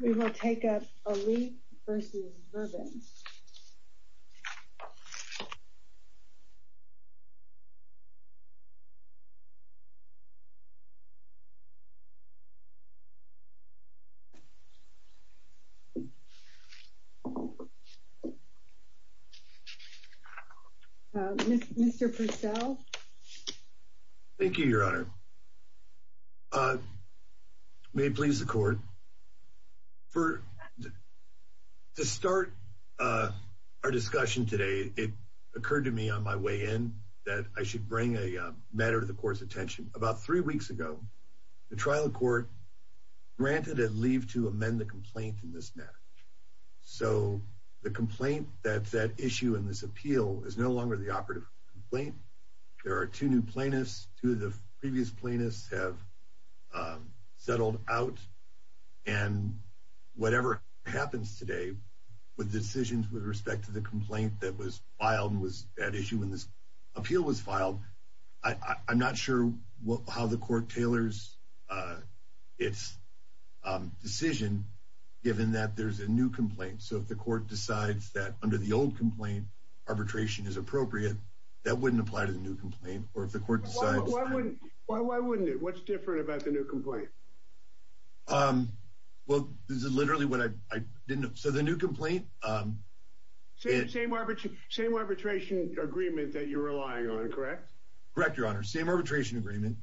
We will take up Aliff v. Vervent. Mr. Purcell. Thank you, Your Honor. May it please the Court. To start our discussion today, it occurred to me on my way in that I should bring a matter to the Court's attention. About three weeks ago, the trial court granted a leave to amend the complaint in this matter. So the complaint that's at issue in this appeal is no longer the operative complaint. There are two new plaintiffs. Two of the previous plaintiffs have settled out. And whatever happens today with decisions with respect to the complaint that was filed and was at issue when this appeal was filed, I'm not sure how the Court tailors its decision given that there's a new complaint. So if the Court decides that under the old complaint, arbitration is appropriate, that wouldn't apply to the new complaint. Or if the Court decides... Why wouldn't it? What's different about the new complaint? Well, this is literally what I didn't... So the new complaint... Same arbitration agreement that you're relying on, correct? Correct, Your Honor. Same arbitration agreement.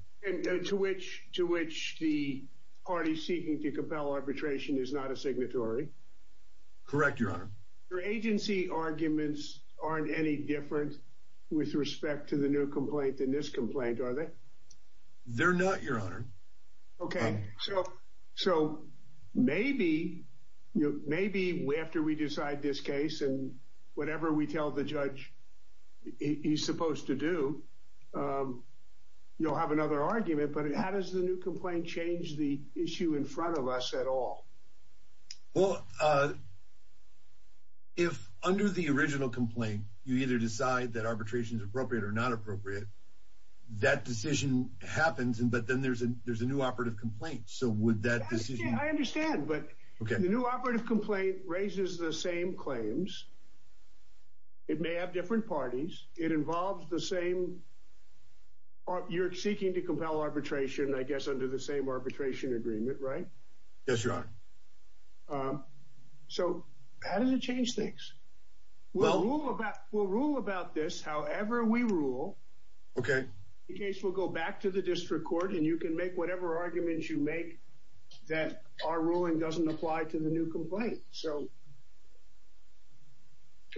To which the party seeking to compel arbitration is not a signatory? Correct, Your Honor. Your agency arguments aren't any different with respect to the new complaint than this complaint, are they? They're not, Your Honor. Okay, so maybe after we decide this case and whatever we tell the judge he's supposed to do, you'll have another argument. But how does the new complaint change the issue in front of us at all? Well, if under the original complaint you either decide that arbitration is appropriate or not appropriate, that decision happens. But then there's a new operative complaint, so would that decision... I understand, but the new operative complaint raises the same claims. It may have different parties. It involves the same... You're seeking to compel arbitration, I guess, under the same arbitration agreement, right? Yes, Your Honor. So how does it change things? We'll rule about this however we rule. Okay. In any case, we'll go back to the district court and you can make whatever arguments you make that our ruling doesn't apply to the new complaint. So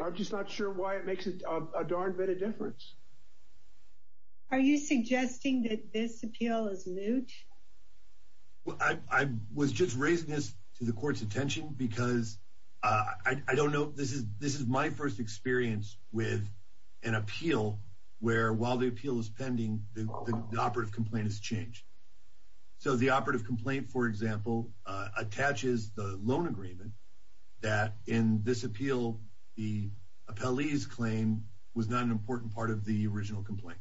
I'm just not sure why it makes a darn bit of difference. Are you suggesting that this appeal is moot? I was just raising this to the court's attention because I don't know... This is my first experience with an appeal where while the appeal is pending, the operative complaint has changed. So the operative complaint, for example, attaches the loan agreement that in this appeal the appellee's claim was not an important part of the original complaint.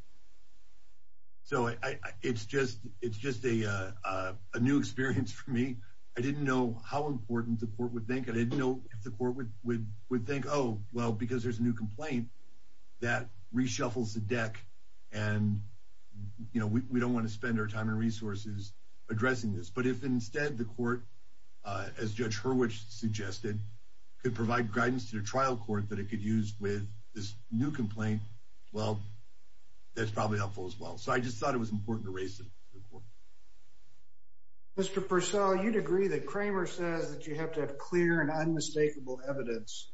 So it's just a new experience for me. I didn't know how important the court would think. I didn't know if the court would think, oh, well, because there's a new complaint, that reshuffles the deck and we don't want to spend our time and resources addressing this. But if instead the court, as Judge Hurwicz suggested, could provide guidance to the trial court that it could use with this new complaint, well, that's probably helpful as well. So I just thought it was important to raise it to the court. Mr. Purcell, you'd agree that Kramer says that you have to have clear and unmistakable evidence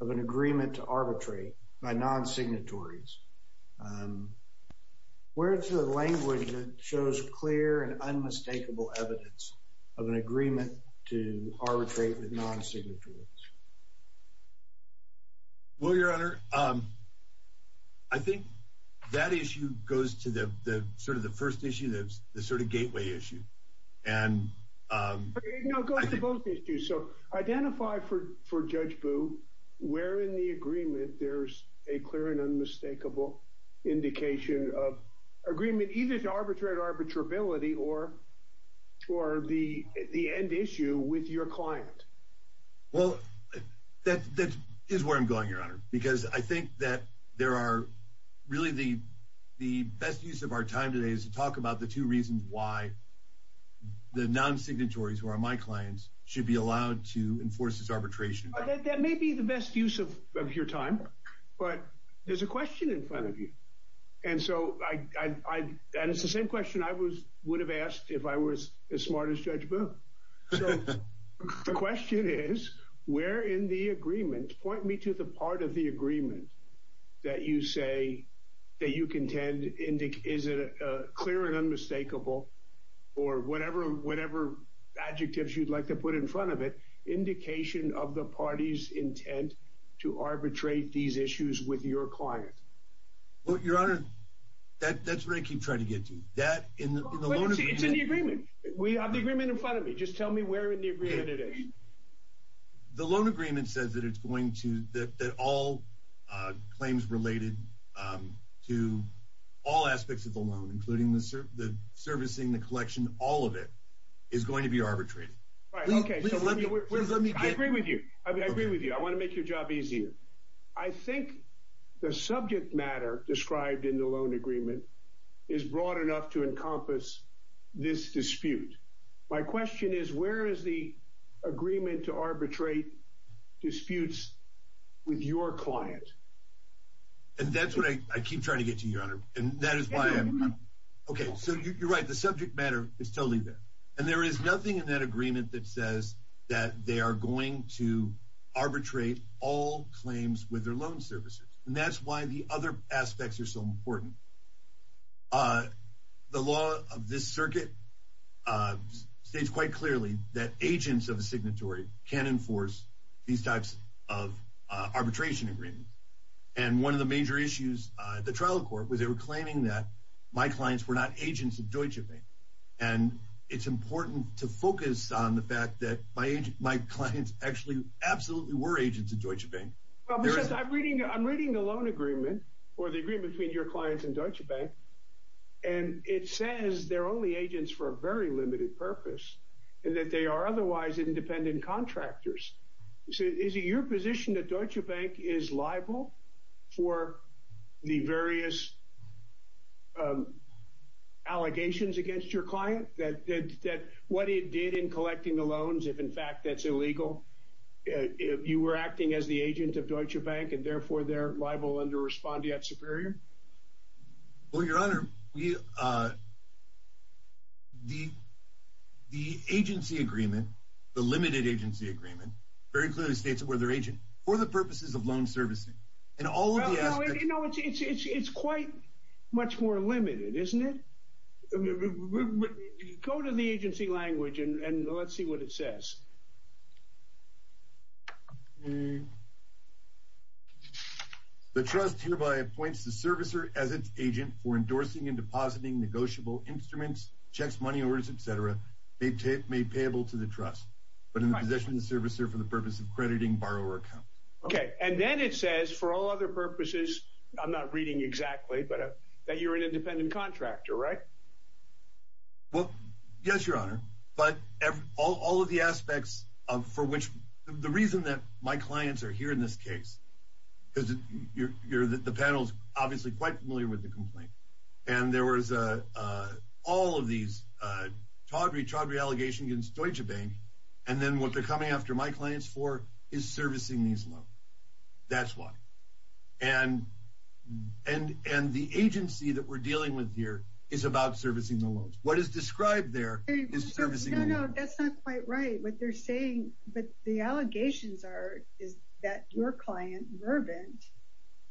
of an agreement to arbitrate by non-signatories. Where is the language that shows clear and unmistakable evidence of an agreement to arbitrate with non-signatories? Well, Your Honor, I think that issue goes to the sort of the first issue, the sort of gateway issue. No, it goes to both issues. So identify for Judge Boo where in the agreement there's a clear and unmistakable indication of agreement either to arbitrate arbitrability or the end issue with your client. Well, that is where I'm going, Your Honor, because I think that there are really the best use of our time today is to talk about the two reasons why the non-signatories who are my clients should be allowed to enforce this arbitration. That may be the best use of your time, but there's a question in front of you. And so, and it's the same question I would have asked if I was as smart as Judge Boo. So the question is, where in the agreement, point me to the part of the agreement that you say that you contend is clear and unmistakable or whatever adjectives you'd like to put in front of it, indication of the party's intent to arbitrate these issues with your client. Well, Your Honor, that's where I keep trying to get to. It's in the agreement. We have the agreement in front of me. Just tell me where in the agreement it is. The loan agreement says that it's going to, that all claims related to all aspects of the loan, including the servicing, the collection, all of it, is going to be arbitrated. All right, okay. I agree with you. I agree with you. I want to make your job easier. I think the subject matter described in the loan agreement is broad enough to encompass this dispute. My question is, where is the agreement to arbitrate disputes with your client? And that's what I keep trying to get to, Your Honor. And that is why I'm— It's in the agreement. Okay, so you're right. The subject matter is totally there. And there is nothing in that agreement that says that they are going to arbitrate all claims with their loan servicers. And that's why the other aspects are so important. The law of this circuit states quite clearly that agents of a signatory can't enforce these types of arbitration agreements. And one of the major issues at the trial court was they were claiming that my clients were not agents of Deutsche Bank. And it's important to focus on the fact that my clients actually absolutely were agents of Deutsche Bank. I'm reading the loan agreement, or the agreement between your clients and Deutsche Bank, and it says they're only agents for a very limited purpose and that they are otherwise independent contractors. Is it your position that Deutsche Bank is liable for the various allegations against your client, that what it did in collecting the loans, if in fact that's illegal, you were acting as the agent of Deutsche Bank and therefore they're liable under respondeat superior? Well, Your Honor, the agency agreement, the limited agency agreement, very clearly states that we're their agent for the purposes of loan servicing. It's quite much more limited, isn't it? Go to the agency language and let's see what it says. The trust hereby appoints the servicer as its agent for endorsing and depositing negotiable instruments, checks, money orders, etc., made payable to the trust, but in possession of the servicer for the purpose of crediting borrower accounts. Okay. And then it says, for all other purposes, I'm not reading exactly, but that you're an independent contractor, right? Well, yes, Your Honor. But all of the aspects for which the reason that my clients are here in this case, because the panel is obviously quite familiar with the complaint, and there was all of these chaudry, chaudry allegations against Deutsche Bank, and then what they're coming after my clients for is servicing these loans. That's why. And the agency that we're dealing with here is about servicing the loans. What is described there is servicing the loans. No, no, that's not quite right. What they're saying, but the allegations are, is that your client, Mervyn,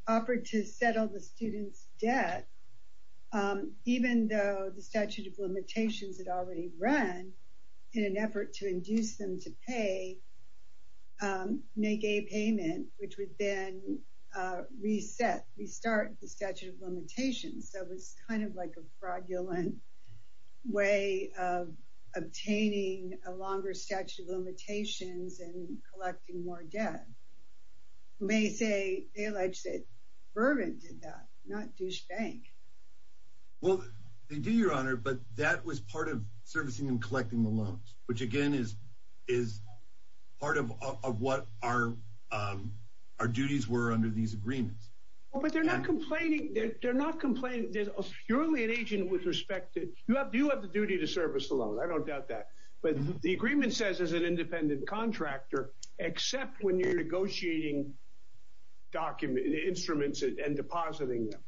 offered to settle the student's debt, even though the statute of limitations had already run, in an effort to induce them to pay, make a payment, which would then reset, restart the statute of limitations. So it's kind of like a fraudulent way of obtaining a longer statute of limitations and collecting more debt. You may say, they allege that Mervyn did that, not Deutsche Bank. Well, they do, Your Honor, but that was part of servicing and collecting the loans, which, again, is part of what our duties were under these agreements. Well, but they're not complaining. They're not complaining. They're purely an agent with respect to, you have the duty to service the loan. I don't doubt that. But the agreement says as an independent contractor, except when you're negotiating instruments and depositing them.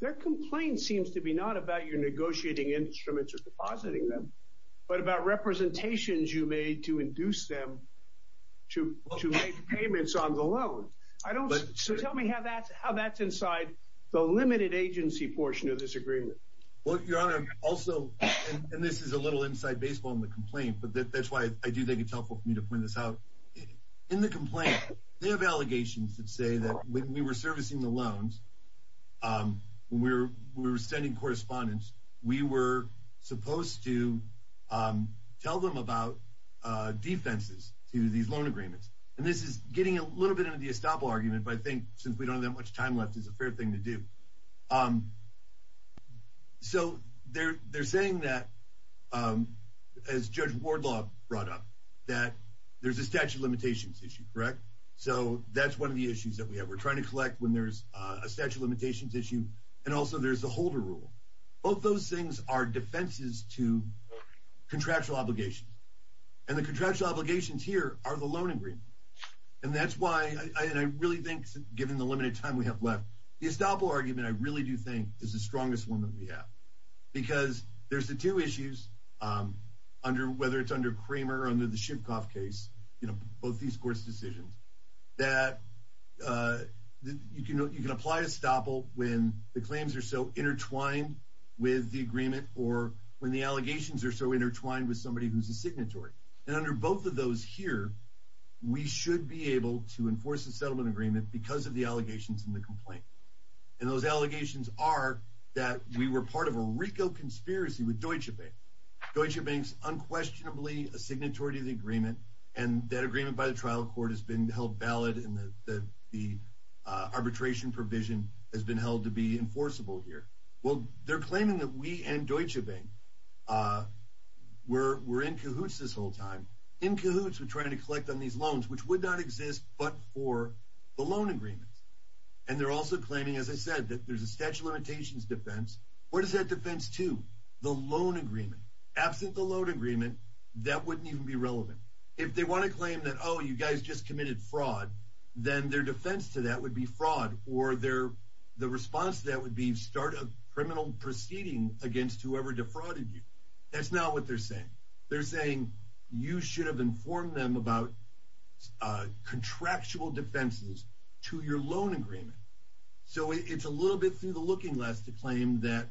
Their complaint seems to be not about your negotiating instruments or depositing them, but about representations you made to induce them to make payments on the loan. So tell me how that's inside the limited agency portion of this agreement. Well, Your Honor, also, and this is a little inside baseball in the complaint, but that's why I do think it's helpful for me to point this out. In the complaint, they have allegations that say that when we were servicing the loans, when we were sending correspondence, we were supposed to tell them about defenses to these loan agreements. And this is getting a little bit into the estoppel argument, but I think since we don't have that much time left, it's a fair thing to do. So they're saying that, as Judge Wardlaw brought up, that there's a statute of limitations issue, correct? So that's one of the issues that we have. We're trying to collect when there's a statute of limitations issue, and also there's the holder rule. Both those things are defenses to contractual obligations. And the contractual obligations here are the loan agreement. And that's why I really think, given the limited time we have left, the estoppel argument, I really do think, is the strongest one that we have. Because there's the two issues, whether it's under Kramer or under the Shivkoff case, both these courts' decisions, that you can apply estoppel when the claims are so intertwined with the agreement or when the allegations are so intertwined with somebody who's a signatory. And under both of those here, we should be able to enforce a settlement agreement because of the allegations in the complaint. And those allegations are that we were part of a RICO conspiracy with Deutsche Bank. Deutsche Bank's unquestionably a signatory to the agreement, and that agreement by the trial court has been held valid, and the arbitration provision has been held to be enforceable here. Well, they're claiming that we and Deutsche Bank were in cahoots this whole time, in cahoots with trying to collect on these loans, which would not exist but for the loan agreement. And they're also claiming, as I said, that there's a statute of limitations defense. What is that defense to? The loan agreement. Absent the loan agreement, that wouldn't even be relevant. If they want to claim that, oh, you guys just committed fraud, then their defense to that would be fraud, or the response to that would be start a criminal proceeding against whoever defrauded you. That's not what they're saying. They're saying you should have informed them about contractual defenses to your loan agreement. So it's a little bit through the looking glass to claim that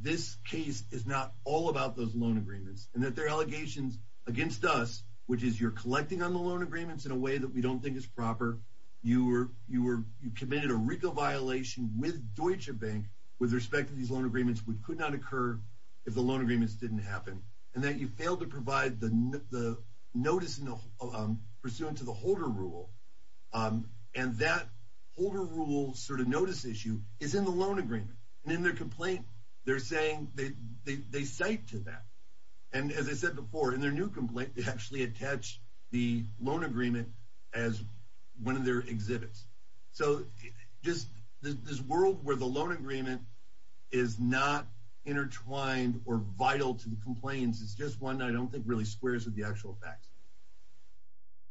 this case is not all about those loan agreements, and that their allegations against us, which is you're collecting on the loan agreements in a way that we don't think is proper, you committed a RICO violation with Deutsche Bank with respect to these loan agreements, which could not occur if the loan agreements didn't happen, and that you failed to provide the notice pursuant to the holder rule. And that holder rule sort of notice issue is in the loan agreement. And in their complaint, they're saying they cite to that. And as I said before, in their new complaint, they actually attached the loan agreement as one of their exhibits. So just this world where the loan agreement is not intertwined or vital to the complaints is just one I don't think really squares with the actual facts.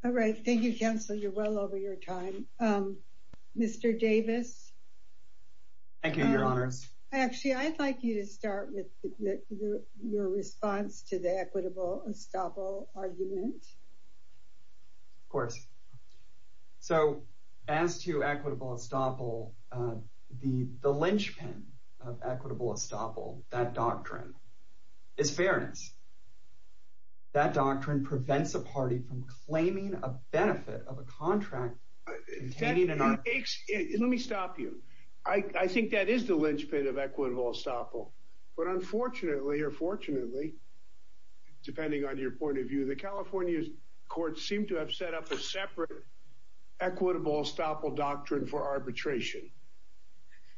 All right. Thank you, Counselor. You're well over your time. Mr. Davis. Thank you, Your Honors. Actually, I'd like you to start with your response to the equitable estoppel argument. Of course. So as to equitable estoppel, the linchpin of equitable estoppel, that doctrine, is fairness. That doctrine prevents a party from claiming a benefit of a contract containing an arbitration. Let me stop you. I think that is the linchpin of equitable estoppel. But unfortunately or fortunately, depending on your point of view, the California courts seem to have set up a separate equitable estoppel doctrine for arbitration,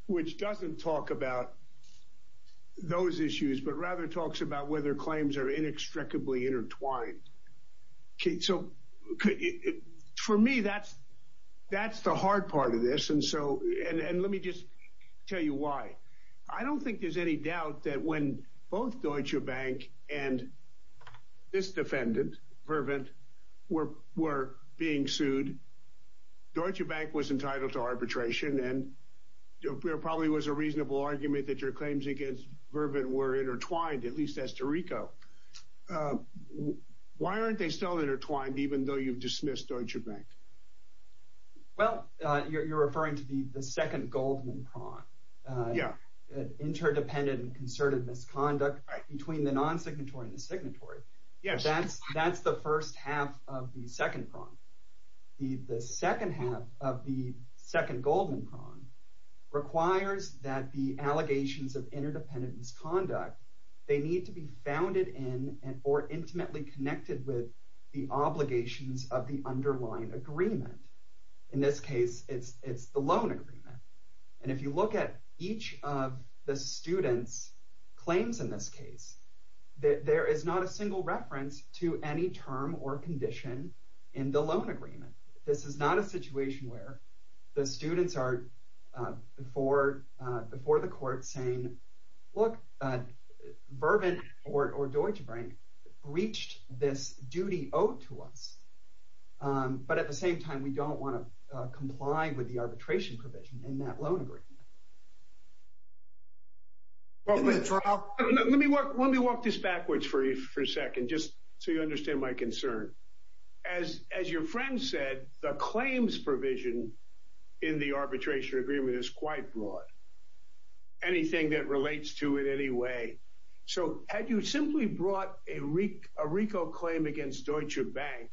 which doesn't talk about those issues, but rather talks about whether claims are inextricably intertwined. So for me, that's the hard part of this. And let me just tell you why. I don't think there's any doubt that when both Deutsche Bank and this defendant, Pervin, were being sued, Deutsche Bank was entitled to arbitration, and there probably was a reasonable argument that your claims against Pervin were intertwined, at least as to Rico. Why aren't they still intertwined, even though you've dismissed Deutsche Bank? Well, you're referring to the second Goldman prong. Yeah. Interdependent and concerted misconduct between the non-signatory and the signatory. Yes. That's the first half of the second prong. The second half of the second Goldman prong requires that the allegations of interdependent misconduct, they need to be founded in or intimately connected with the obligations of the underlying agreement. In this case, it's the loan agreement. And if you look at each of the student's claims in this case, there is not a single reference to any term or condition in the loan agreement. This is not a situation where the students are before the court saying, look, Pervin or Deutsche Bank breached this duty owed to us. But at the same time, we don't want to comply with the arbitration provision in that loan agreement. Let me walk this backwards for a second, just so you understand my concern. As your friend said, the claims provision in the arbitration agreement is quite broad. Anything that relates to it anyway. So had you simply brought a RICO claim against Deutsche Bank,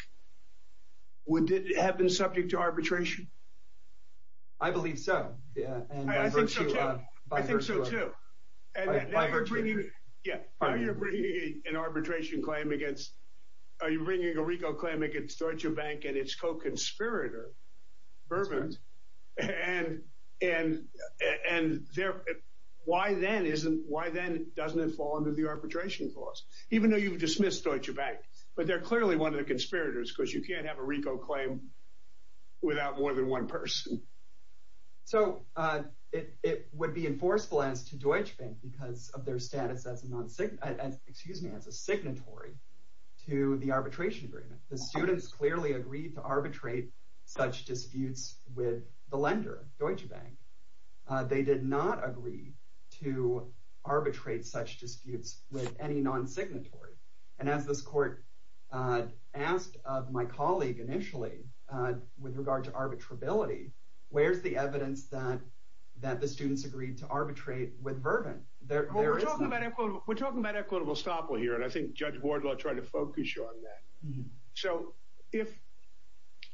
would it have been subject to arbitration? I believe so. Yeah. I think so, too. Yeah. Are you bringing an arbitration claim against – are you bringing a RICO claim against Deutsche Bank and its co-conspirator, Pervin? And why then doesn't it fall under the arbitration clause, even though you've dismissed Deutsche Bank? But they're clearly one of the conspirators because you can't have a RICO claim without more than one person. So it would be enforceable as to Deutsche Bank because of their status as a signatory to the arbitration agreement. The students clearly agreed to arbitrate such disputes with the lender, Deutsche Bank. They did not agree to arbitrate such disputes with any non-signatory. And as this court asked of my colleague initially with regard to arbitrability, where's the evidence that the students agreed to arbitrate with Pervin? We're talking about equitable estoppel here, and I think Judge Wardlaw tried to focus you on that. So if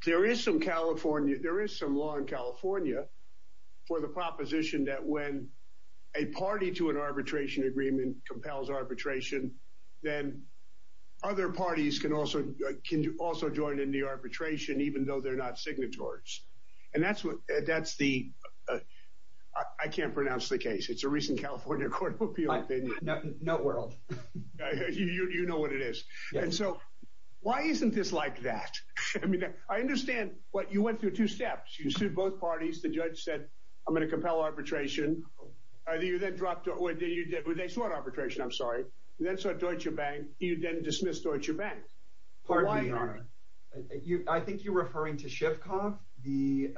there is some California – there is some law in California for the proposition that when a party to an arbitration agreement compels arbitration, then other parties can also join in the arbitration, even though they're not signatories. And that's the – I can't pronounce the case. It's a recent California court appeal. Noteworld. You know what it is. And so why isn't this like that? I mean, I understand what – you went through two steps. You sued both parties. The judge said, I'm going to compel arbitration. You then dropped – they swore arbitration, I'm sorry. You then saw Deutsche Bank. You then dismissed Deutsche Bank. Pardon me, Your Honor. I think you're referring to Schiffkopf, the –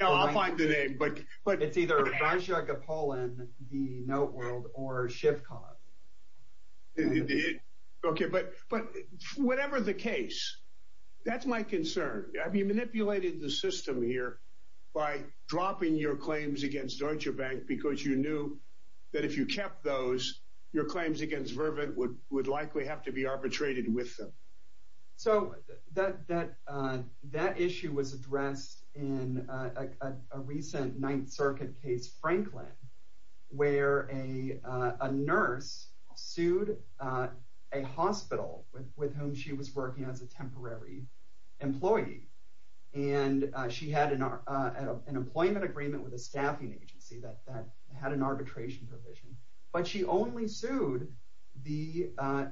No, I'll find the name, but – It's either Braschia Gapolin, The Noteworld, or Schiffkopf. Okay, but whatever the case, that's my concern. Have you manipulated the system here by dropping your claims against Deutsche Bank because you knew that if you kept those, your claims against Vervin would likely have to be arbitrated with them? So that issue was addressed in a recent Ninth Circuit case, Franklin, where a nurse sued a hospital with whom she was working as a temporary employee. And she had an employment agreement with a staffing agency that had an arbitration provision. But she only sued the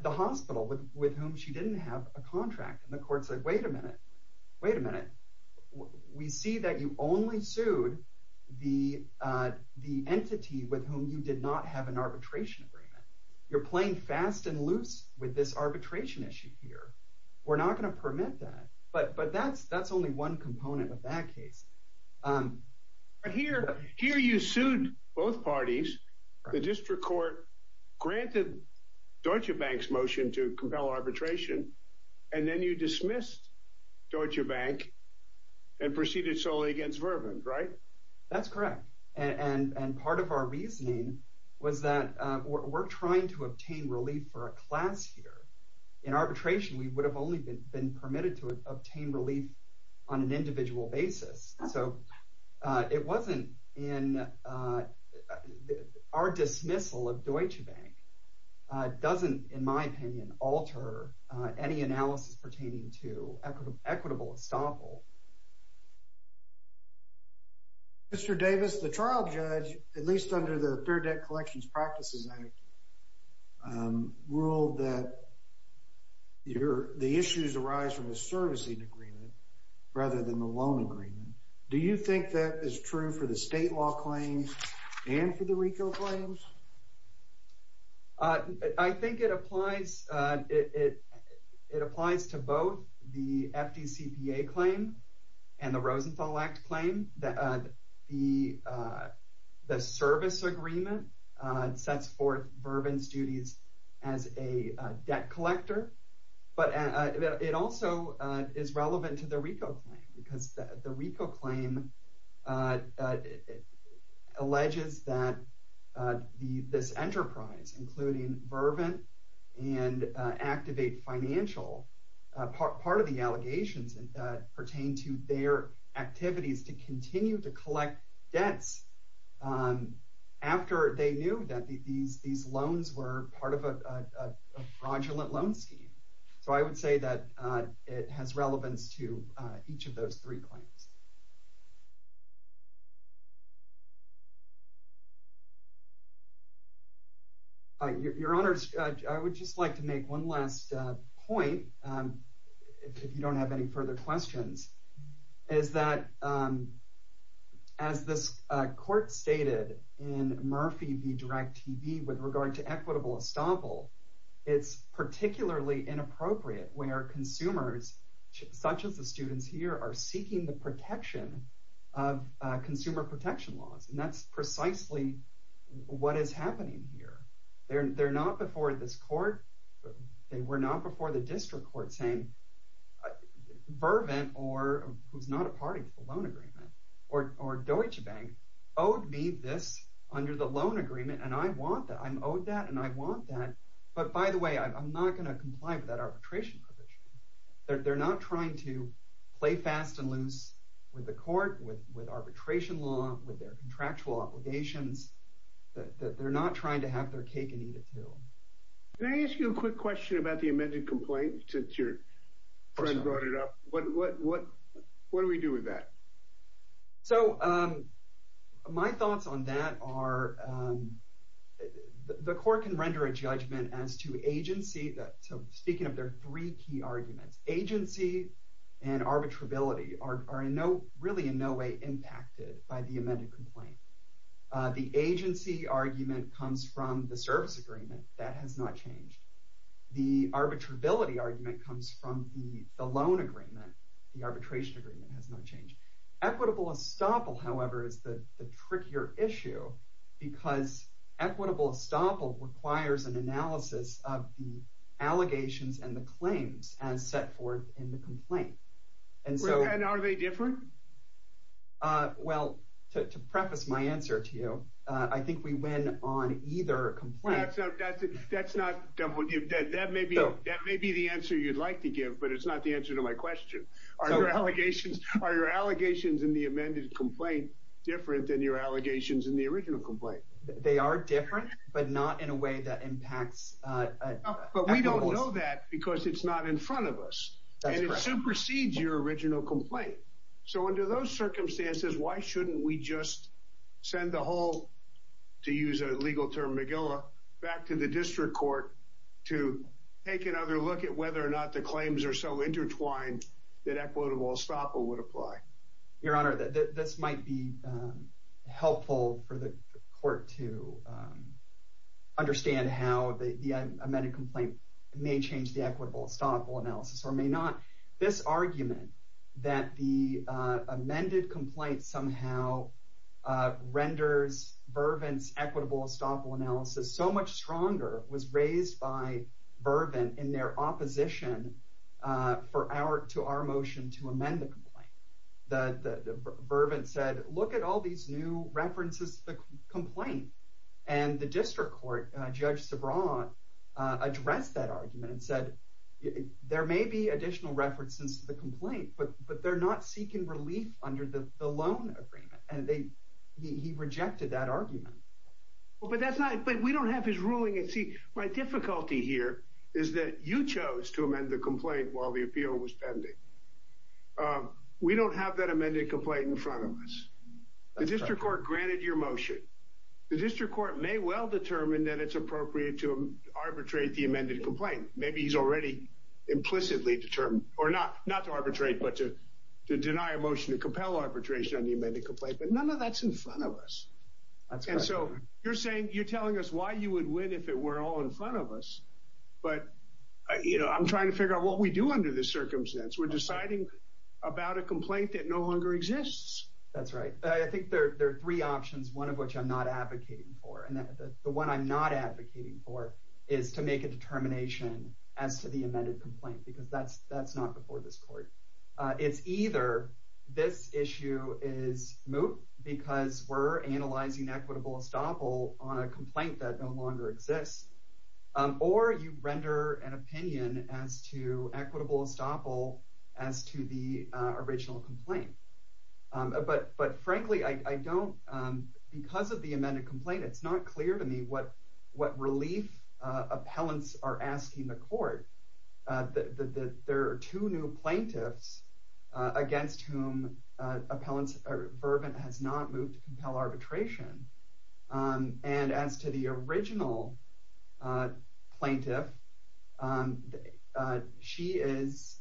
hospital with whom she didn't have a contract. And the court said, wait a minute, wait a minute. We see that you only sued the entity with whom you did not have an arbitration agreement. You're playing fast and loose with this arbitration issue here. We're not going to permit that. But that's only one component of that case. But here you sued both parties. The district court granted Deutsche Bank's motion to compel arbitration. And then you dismissed Deutsche Bank and proceeded solely against Vervin, right? That's correct. And part of our reasoning was that we're trying to obtain relief for a class here. In arbitration, we would have only been permitted to obtain relief on an individual basis. So it wasn't in our dismissal of Deutsche Bank doesn't, in my opinion, alter any analysis pertaining to equitable estoppel. Mr. Davis, the trial judge, at least under the Fair Debt Collections Practices Act, ruled that the issues arise from the servicing agreement rather than the loan agreement. Do you think that is true for the state law claims and for the RICO claims? I think it applies to both the FDCPA claim and the Rosenthal Act claim. The service agreement sets forth Vervin's duties as a debt collector. But it also is relevant to the RICO claim because the RICO claim alleges that this enterprise, including Vervin and Activate Financial, part of the allegations pertain to their activities to continue to collect debts after they knew that these loans were part of a fraudulent loan scheme. So I would say that it has relevance to each of those three claims. Your Honor, I would just like to make one last point, if you don't have any further questions. As this court stated in Murphy v. Direct TV with regard to equitable estoppel, it's particularly inappropriate where consumers, such as the students here, are seeking the protection of consumer protection laws. And that's precisely what is happening here. They're not before this court, they were not before the district court, saying Vervin, who's not a party to the loan agreement, or Deutsche Bank, owed me this under the loan agreement and I want that, I'm owed that and I want that. But by the way, I'm not going to comply with that arbitration provision. They're not trying to play fast and loose with the court, with arbitration law, with their contractual obligations. They're not trying to have their cake and eat it too. Can I ask you a quick question about the amended complaint that your friend brought it up? What do we do with that? So my thoughts on that are the court can render a judgment as to agency, so speaking of their three key arguments, agency and arbitrability are really in no way impacted by the amended complaint. The agency argument comes from the service agreement. That has not changed. The arbitrability argument comes from the loan agreement. The arbitration agreement has not changed. Equitable estoppel, however, is the trickier issue because equitable estoppel requires an analysis of the allegations and the claims as set forth in the complaint. And are they different? Well, to preface my answer to you, I think we win on either complaint. That may be the answer you'd like to give, but it's not the answer to my question. Are your allegations in the amended complaint different than your allegations in the original complaint? They are different, but not in a way that impacts... But we don't know that because it's not in front of us. And it supersedes your original complaint. So under those circumstances, why shouldn't we just send the whole, to use a legal term, magilla, back to the district court to take another look at whether or not the claims are so intertwined that equitable estoppel would apply? Your Honor, this might be helpful for the court to understand how the amended complaint may change the equitable estoppel analysis or may not. This argument that the amended complaint somehow renders Vervant's equitable estoppel analysis so much stronger was raised by Vervant in their opposition to our motion to amend the complaint. Vervant said, look at all these new references to the complaint. And the district court, Judge Sebrant, addressed that argument and said, there may be additional references to the complaint, but they're not seeking relief under the loan agreement. And he rejected that argument. But we don't have his ruling. See, my difficulty here is that you chose to amend the complaint while the appeal was pending. We don't have that amended complaint in front of us. The district court granted your motion. The district court may well determine that it's appropriate to arbitrate the amended complaint. Maybe he's already implicitly determined, or not to arbitrate, but to deny a motion to compel arbitration on the amended complaint. But none of that's in front of us. And so you're saying, you're telling us why you would win if it were all in front of us. But I'm trying to figure out what we do under this circumstance. We're deciding about a complaint that no longer exists. That's right. I think there are three options, one of which I'm not advocating for. And the one I'm not advocating for is to make a determination as to the amended complaint. Because that's not before this court. It's either this issue is moot because we're analyzing equitable estoppel on a complaint that no longer exists. Or you render an opinion as to equitable estoppel as to the original complaint. But frankly, because of the amended complaint, it's not clear to me what relief appellants are asking the court. There are two new plaintiffs against whom Verbin has not moved to compel arbitration. And as to the original plaintiff, she is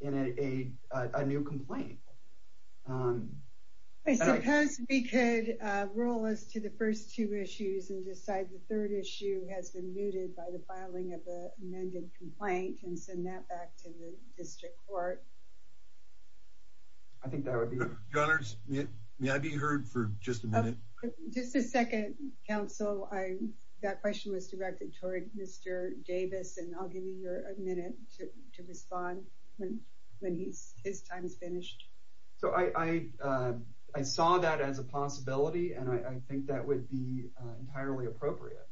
in a new complaint. I suppose we could roll us to the first two issues and decide the third issue has been mooted by the filing of the amended complaint and send that back to the district court. I think that would be good. Your Honors, may I be heard for just a minute? Just a second, counsel. That question was directed toward Mr. Davis. And I'll give you a minute to respond when his time is finished. So I saw that as a possibility. And I think that would be entirely appropriate.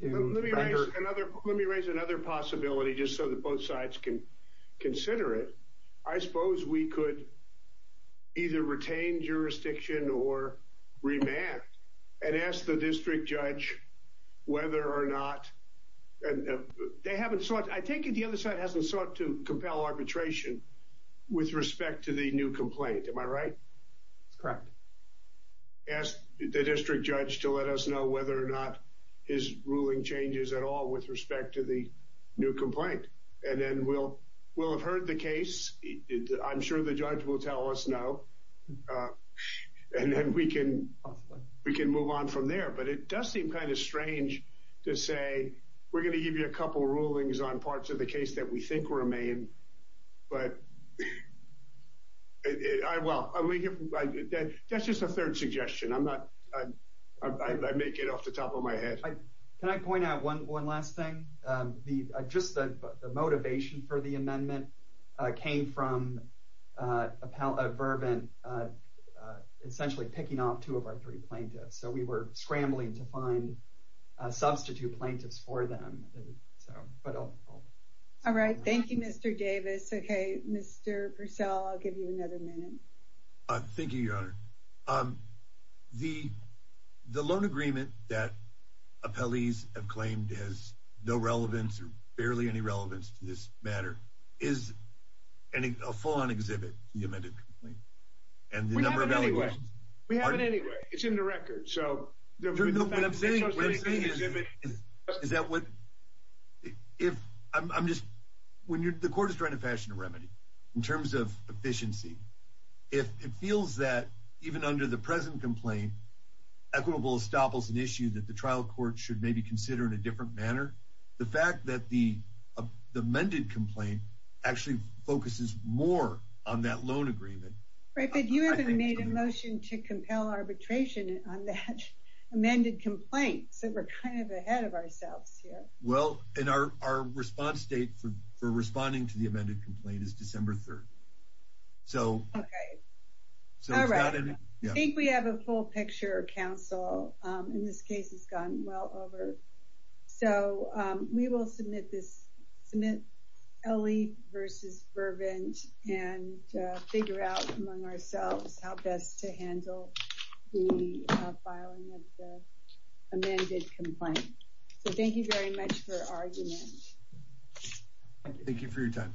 Let me raise another possibility just so that both sides can consider it. I suppose we could either retain jurisdiction or remand and ask the district judge whether or not they haven't sought, I think the other side hasn't sought to compel arbitration with respect to the new complaint. Am I right? That's correct. Ask the district judge to let us know whether or not his ruling changes at all with respect to the new complaint. And then we'll have heard the case. I'm sure the judge will tell us now. And then we can move on from there. But it does seem kind of strange to say, we're going to give you a couple of rulings on parts of the case that we think were remanded. That's just a third suggestion. I may get off the top of my head. Can I point out one last thing? Just the motivation for the amendment came from Verbin essentially picking off two of our three plaintiffs. So we were scrambling to find substitute plaintiffs for them. All right, thank you, Mr. Davis. Mr. Purcell, I'll give you another minute. Thank you, Your Honor. The loan agreement that appellees have claimed has no relevance or barely any relevance to this matter is a full-on exhibit to the amended complaint. We have it anyway. It's in the record. What I'm saying is that when the court is trying to fashion a remedy in terms of efficiency, it feels that even under the present complaint, equitable establishes an issue that the trial court should maybe consider in a different manner. The fact that the amended complaint actually focuses more on that loan agreement. Right, but you haven't made a motion to compel arbitration on that amended complaint, so we're kind of ahead of ourselves here. Well, and our response date for responding to the amended complaint is December 3rd. Okay. All right. I think we have a full-picture counsel, and this case has gone well over. So we will submit this, submit Elie v. Vervant and figure out among ourselves how best to handle the filing of the amended complaint. So thank you very much for arguing it. Thank you for your time today.